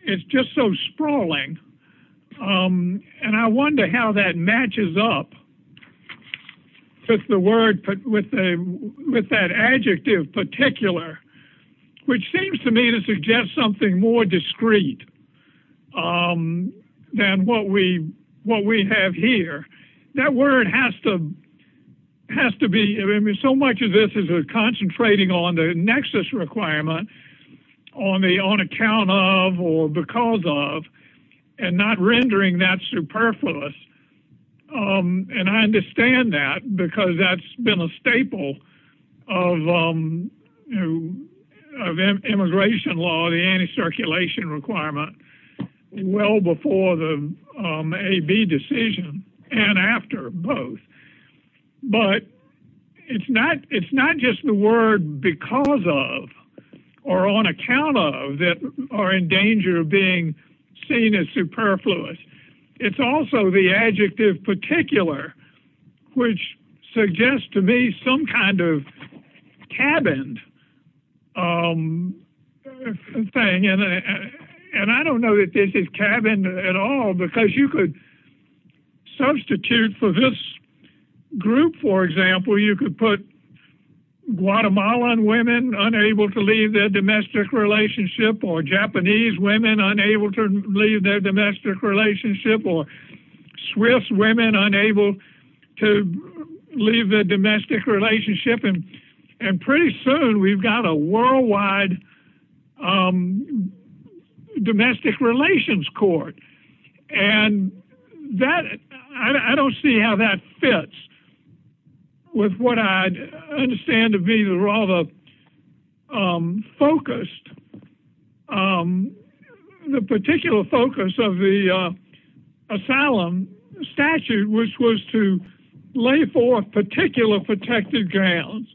It's just so sprawling. And I wonder how that matches up with the word, with that adjective particular, which seems to me to suggest something more what we have here. That word has to be, I mean, so much of this is concentrating on the nexus requirement on account of or because of and not rendering that superfluous. And I understand that because that's been a staple of immigration law, the anti-circulation requirement, well before the AB decision and after both. But it's not just the word because of or on account of that are in danger of being seen as superfluous. It's also the And I don't know if this is cabin at all because you could substitute for this group, for example, you could put Guatemalan women unable to leave their domestic relationship or Japanese women unable to leave their domestic relationship or Swiss women unable to leave their domestic relationship. And pretty soon we've got a worldwide domestic relations court. And that, I don't see how that fits with what I understand to be rather focused. Um, the particular focus of the asylum statute was to lay for particular protected grounds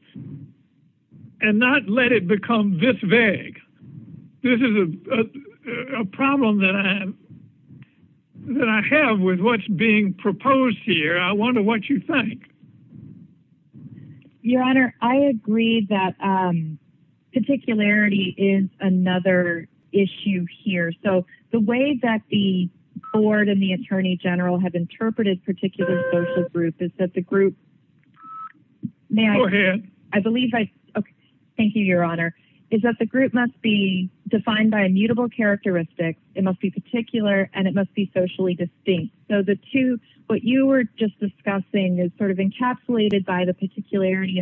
and not let it become this vague. This is a problem that I have with what's being proposed here. I wonder what you think. Your honor, I agree that particularity is another issue here. So the way that the board and the attorney general have interpreted particular social groups is that the group, I believe I thank you. Your honor is that the group must be defined by a mutable characteristic. It must be particular and it must be socially distinct. So the two, what you were just discussing is sort of encapsulated by the particularity.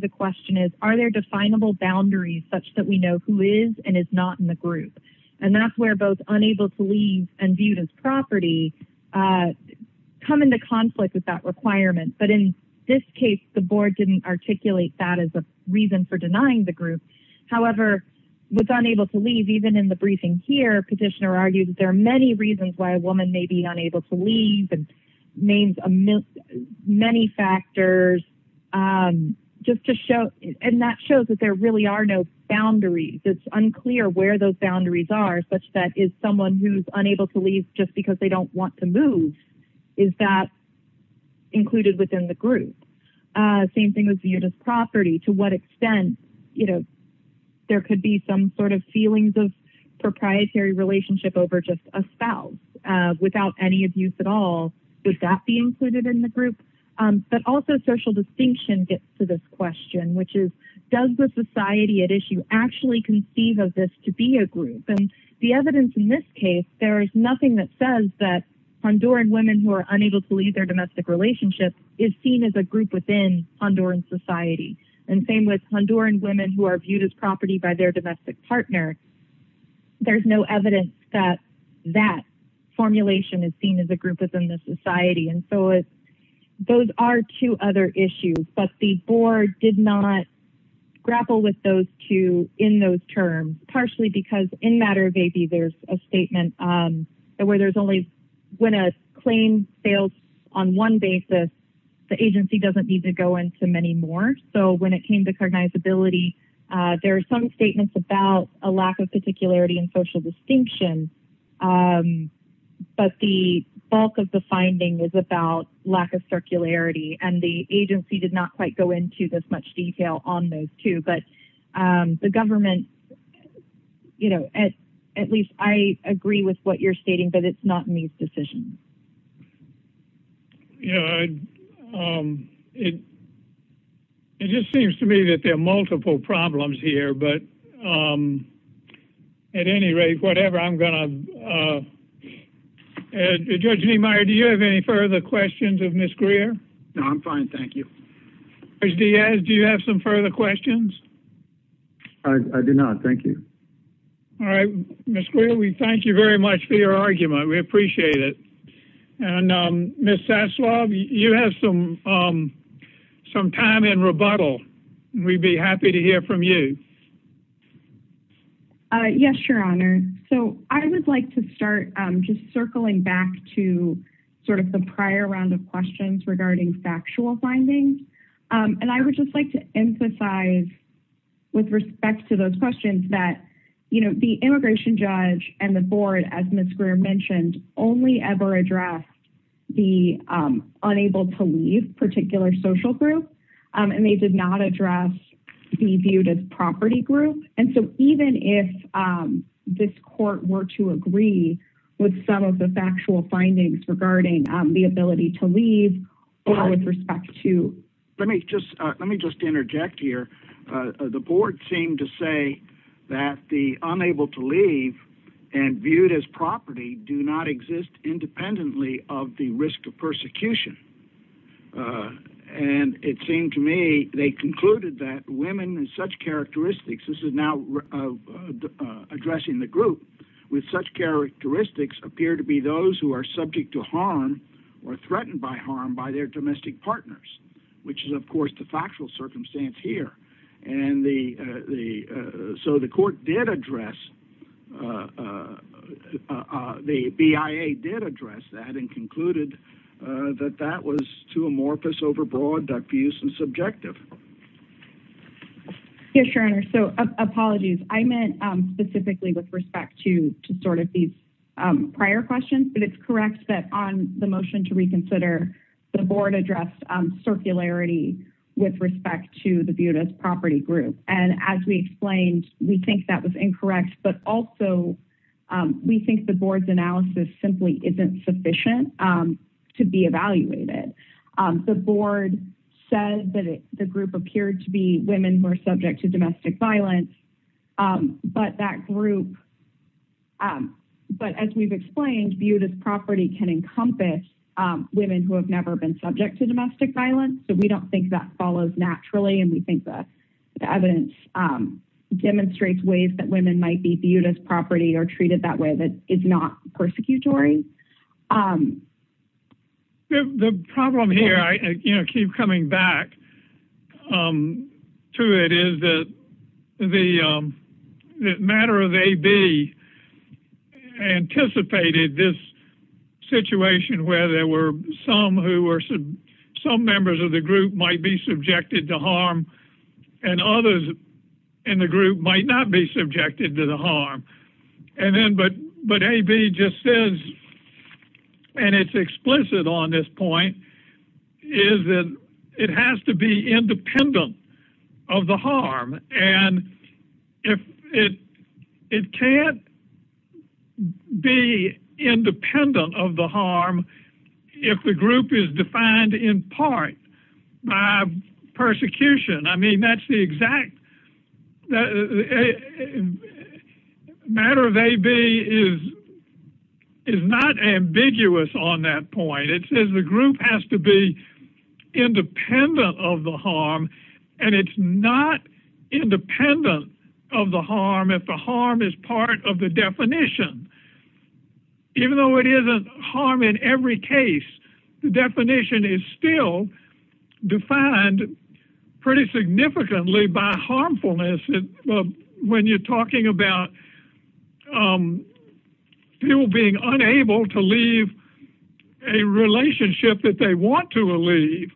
The question is, are there definable boundaries such that we know who is and is not in the group? And that's where both unable to leave and viewed as property, come into conflict with that requirement. But in this case, the board didn't articulate that as a reason for denying the group. However, with unable to leave, even in the briefing here, petitioner argued that there are many reasons why a woman may be unable to leave and names many factors just to show and that shows that there really are no boundaries. It's unclear where those boundaries are such that is someone who's unable to leave just because they don't want to move, is that included within the group? Same thing as viewed as property, to what extent, you know, there could be some sort of feelings of proprietary relationship over just a spouse without any abuse at all. Would that be included in the group? But also social distinction gets to this question, which is, does the society at issue actually conceive of this to be a group? And the evidence in this case, there is nothing that says that Honduran women who are unable to leave their domestic relationship is seen as a group within Honduran society. And same with Honduran women who are viewed as property by their domestic partner. There's no evidence that that formulation is seen as a group within the society. And so those are two other issues, but the board did not grapple with those two in those terms, partially because in matter of AB, there's a statement where there's only, when a claim fails on one basis, the agency doesn't need to go into many more. So when it came to cognizability, there are some statements about a lack of particularity and social distinction, but the bulk of the finding is about lack of circularity and the agency did not quite go into this much detail on those two, but the government, you know, at least I agree with what you're stating, but it's not in these decisions. Yeah. It just seems to me that there are multiple problems here, but at any rate, whatever I'm going to, Judge Niemeyer, do you have any further questions of Ms. Greer? No, I'm fine. Thank you. Do you have some further questions? I do not. Thank you. All right. Ms. Greer, we thank you very much for your argument. We appreciate it. And Ms. Saslaw, you have some time in rebuttal. We'd be happy to hear from you. Yes, Your Honor. So I would like to start just circling back to sort of the prior round of questions regarding factual findings. And I would just like to emphasize with respect to those the unable to leave particular social group, and they did not address the viewed as property group. And so even if this court were to agree with some of the factual findings regarding the ability to leave or with respect to... Let me just interject here. The board seemed to say that the unable to of the risk of persecution. And it seemed to me they concluded that women in such characteristics, this is now addressing the group, with such characteristics appear to be those who are subject to harm or threatened by harm by their domestic partners, which is, of course, the having concluded that that was too amorphous, overbroad, diffuse, and subjective. Yes, Your Honor. So apologies. I meant specifically with respect to sort of these prior questions, but it's correct that on the motion to reconsider, the board addressed circularity with respect to the viewed as property group. And as we explained, we think that was incorrect, but also we think the board's analysis simply isn't sufficient to be evaluated. The board said that the group appeared to be women who are subject to domestic violence, but that group... But as we've explained, viewed as property can encompass women who have never been subject to domestic violence. So we don't think that follows naturally, and we think the evidence demonstrates ways that women might be viewed as property or treated that way that is not persecutory. The problem here, I keep coming back to it, is that the matter of AB anticipated this situation where there were some who were... ...subjected to harm and others in the group might not be subjected to the harm. But AB just says, and it's explicit on this point, is that it has to be independent of the harm. And it can't be independent of the harm if the group is defined in part by persecution. I mean, that's the exact... Matter of AB is not ambiguous on that point. It says the group has to be independent of the harm, and it's not independent of the harm if the harm is part of the definition. Even though it isn't harm in every case, the definition is still defined pretty significantly by harmfulness. When you're talking about people being unable to leave a relationship that they have,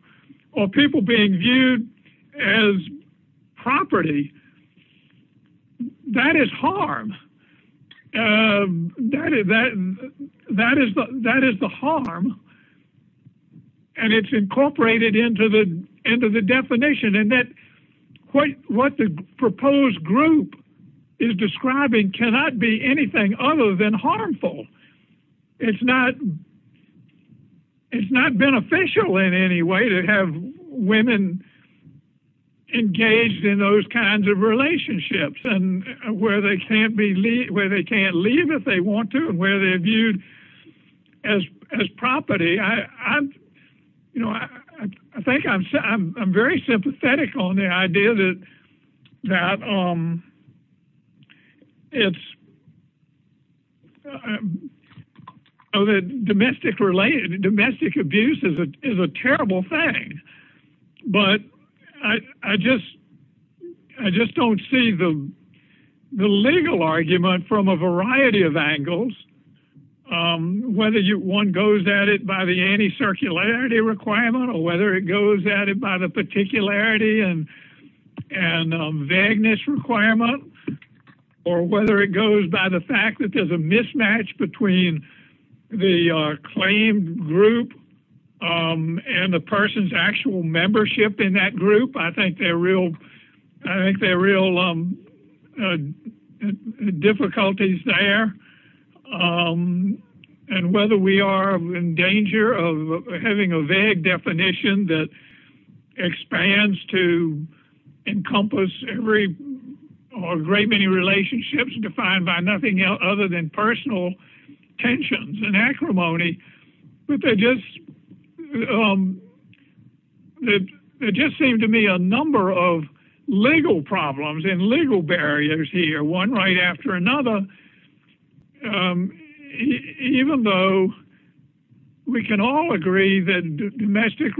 that is the harm, and it's incorporated into the definition. And what the proposed group is describing cannot be anything other than harmful. It's not beneficial in any way to have women engaged in those kinds of relationships where they can't leave if they want to, and where they're viewed as property. I think I'm very sympathetic on the idea that domestic abuse is a terrible thing. But I just don't see the legal argument from a variety of angles, whether one goes at it by the anti-circularity requirement, or whether it goes at it by the particularity and vagueness requirement, or whether it goes by the fact that there's a mismatch between the claimed group and the person's actual membership in that group. I think there are real difficulties there. And whether we are in danger of having a vague definition that expands to encompass a great many relationships defined by nothing other than personal tensions and acrimony, but there just seem to be a number of legal problems and legal issues. I think that domestic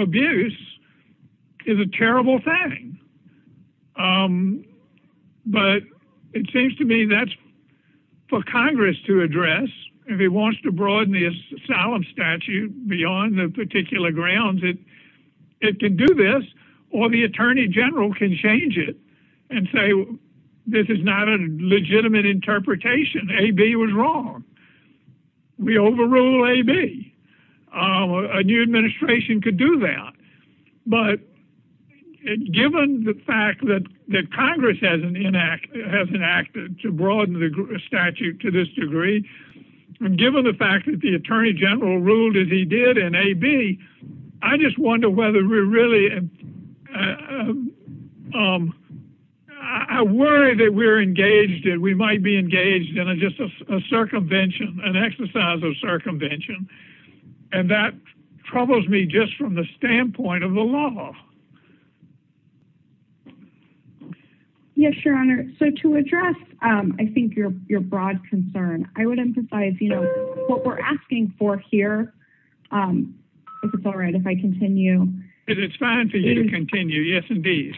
abuse is a terrible thing. But it seems to me that's for Congress to address. If it wants to broaden the asylum statute beyond the particular grounds, it can do this, or the Attorney General can change it and say, this is not a legitimate interpretation. AB was wrong. We overrule AB. A new administration could do that. But given the fact that Congress hasn't enacted to broaden the statute to this degree, given the fact that the Attorney General ruled as he did in AB, I just wonder whether we're really... I worry that we're engaged and we might be engaged in just a circumvention, an exercise of circumvention. And that troubles me just from the standpoint of the law. Yes, Your Honor. So to address, I think, your broad concern, I would emphasize what we're asking for here. If it's all right if I continue. It's fine for you to continue. Yes, indeed.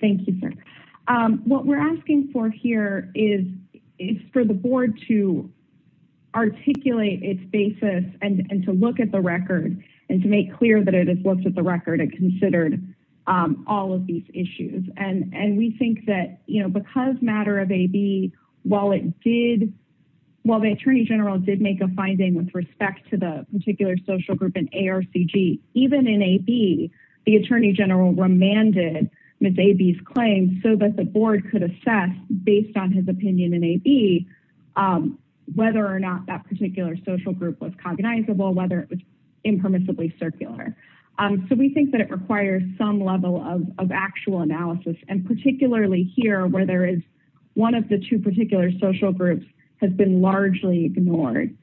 Thank you, sir. What we're asking for here is for the board to articulate its basis and to look at the record and to make clear that it has looked at the record and considered all of these issues. And we think that because matter of AB, while the Attorney General did make a finding with respect to the particular social group in ARCG, even in AB, the Attorney General remanded Ms. AB's claim so that the board could assess, based on his opinion in AB, whether or not that particular social group was cognizable, whether it was impermissibly circular. So we think that it requires some level of actual analysis. And particularly here, where there is one of the two particular social groups has been largely ignored.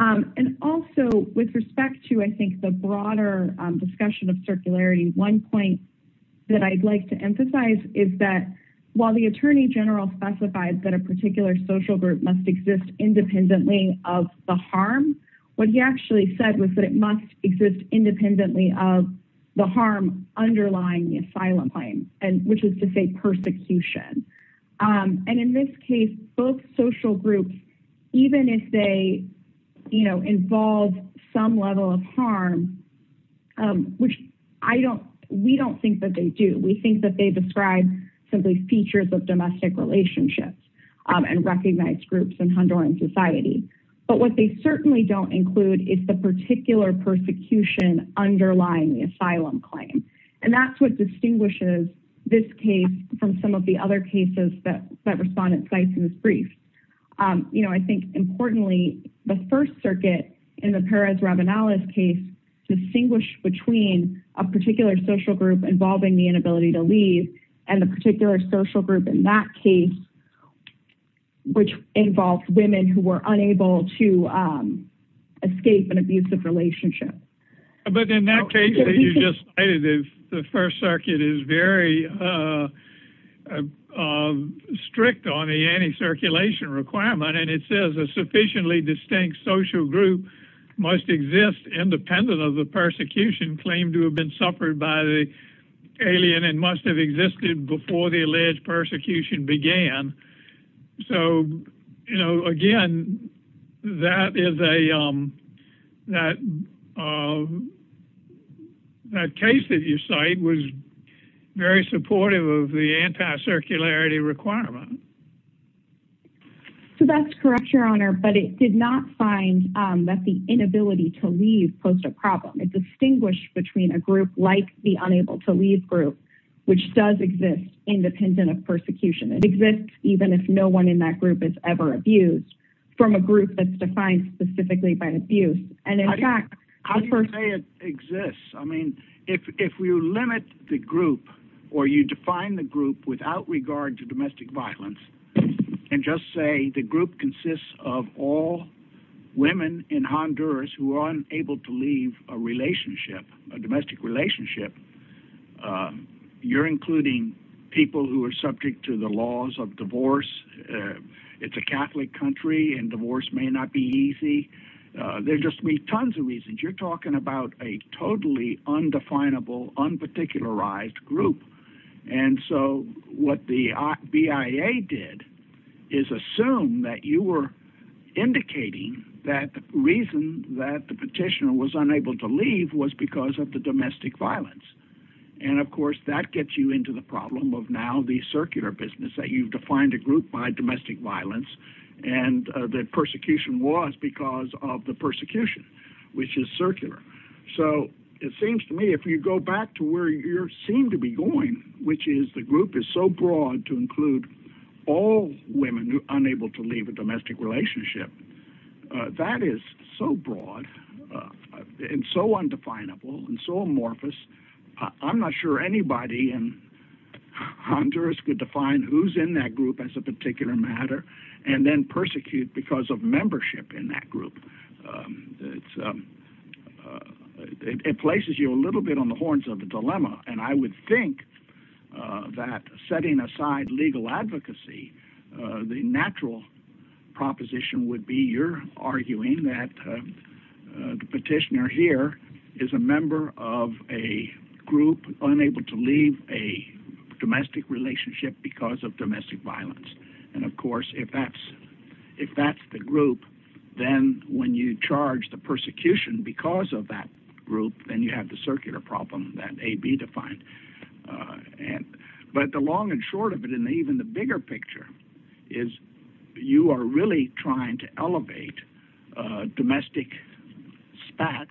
And also, with respect to, I think, the broader discussion of circularity, one point that I'd like to emphasize is that while the Attorney General specifies that a particular social group must exist independently of the harm, what he actually said was that it must exist independently of the harm underlying the asylum claim, which is to say persecution. And in this case, both social groups, even if they, you know, involve some level of harm, which we don't think that they do. We think that they describe simply features of domestic relationships and recognized groups in Honduran society. But what they certainly don't include is the particular persecution underlying the asylum claim. And that's what distinguishes this case from some of the other cases that respondents cite in this brief. You know, I think importantly, the First Circuit in the Perez-Ravenales case distinguished between a particular social group involving the inability to leave and the particular social group in that case, which involved women who were unable to escape an abusive relationship. But in that case, the First Circuit is very strict on the anti-circulation requirement, and it says a sufficiently distinct social group must exist independent of the persecution claimed to have been suffered by the alien and must have existed before the alleged persecution began. So, you know, again, that is a, that case that you cite was very supportive of the anti-circularity requirement. So that's correct, Your Honor, but it did not find that the inability to leave posed a problem. It distinguished between a group like the unable to leave group, which does exist independent of even if no one in that group is ever abused, from a group that's defined specifically by abuse. And in fact... How do you say it exists? I mean, if you limit the group or you define the group without regard to domestic violence and just say the group consists of all women in Honduras who are unable to leave a relationship, a domestic relationship, you're including people who are subject to the divorce. It's a Catholic country and divorce may not be easy. There just may be tons of reasons. You're talking about a totally undefinable, unparticularized group. And so what the BIA did is assume that you were indicating that the reason that the petitioner was unable to leave was because of the domestic violence. And of course, that gets you into the problem of now the circular business that you've defined a group by domestic violence and that persecution was because of the persecution, which is circular. So it seems to me if you go back to where you seem to be going, which is the group is so broad to include all women unable to leave a domestic relationship, that is so broad and so undefinable and so amorphous. I'm not sure anybody in who's in that group as a particular matter and then persecute because of membership in that group. It places you a little bit on the horns of a dilemma. And I would think that setting aside legal advocacy, the natural proposition would be you're arguing that the petitioner here is a member of a group unable to leave a domestic relationship because of domestic violence. And of course, if that's the group, then when you charge the persecution because of that group, then you have the circular problem that AB defined. But the long and short of it, even the bigger picture, is you are really trying to elevate domestic spats,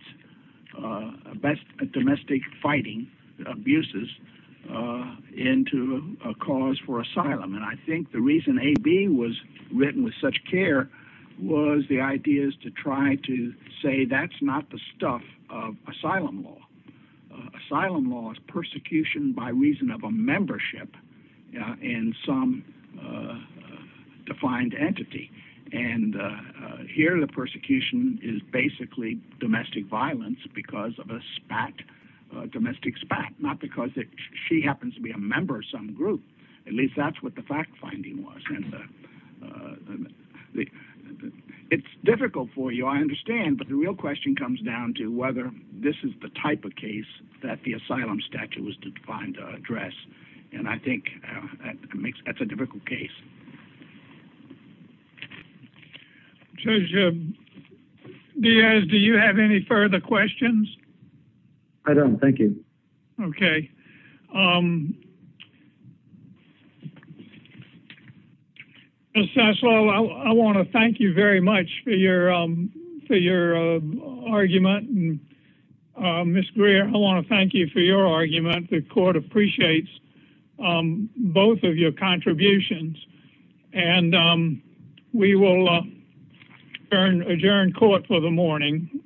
domestic fighting abuses into a cause for asylum. And I think the reason AB was written with such care was the ideas to try to say that's not the stuff of asylum law. Asylum law is persecution by reason of a membership in some defined entity. And here the persecution is basically domestic violence because of a domestic spat, not because she happens to be a member of some group. At least that's what the fact finding was. It's difficult for you, I understand, but the real question comes down to whether this is the type of case that the asylum statute was defined to address. And I think that's a difficult case. Judge Diaz, do you have any further questions? I don't. Thank you. Okay. I want to thank you very much for your argument. Ms. Greer, I want to thank you for your argument. The court appreciates both of your contributions. And we will adjourn court for the morning.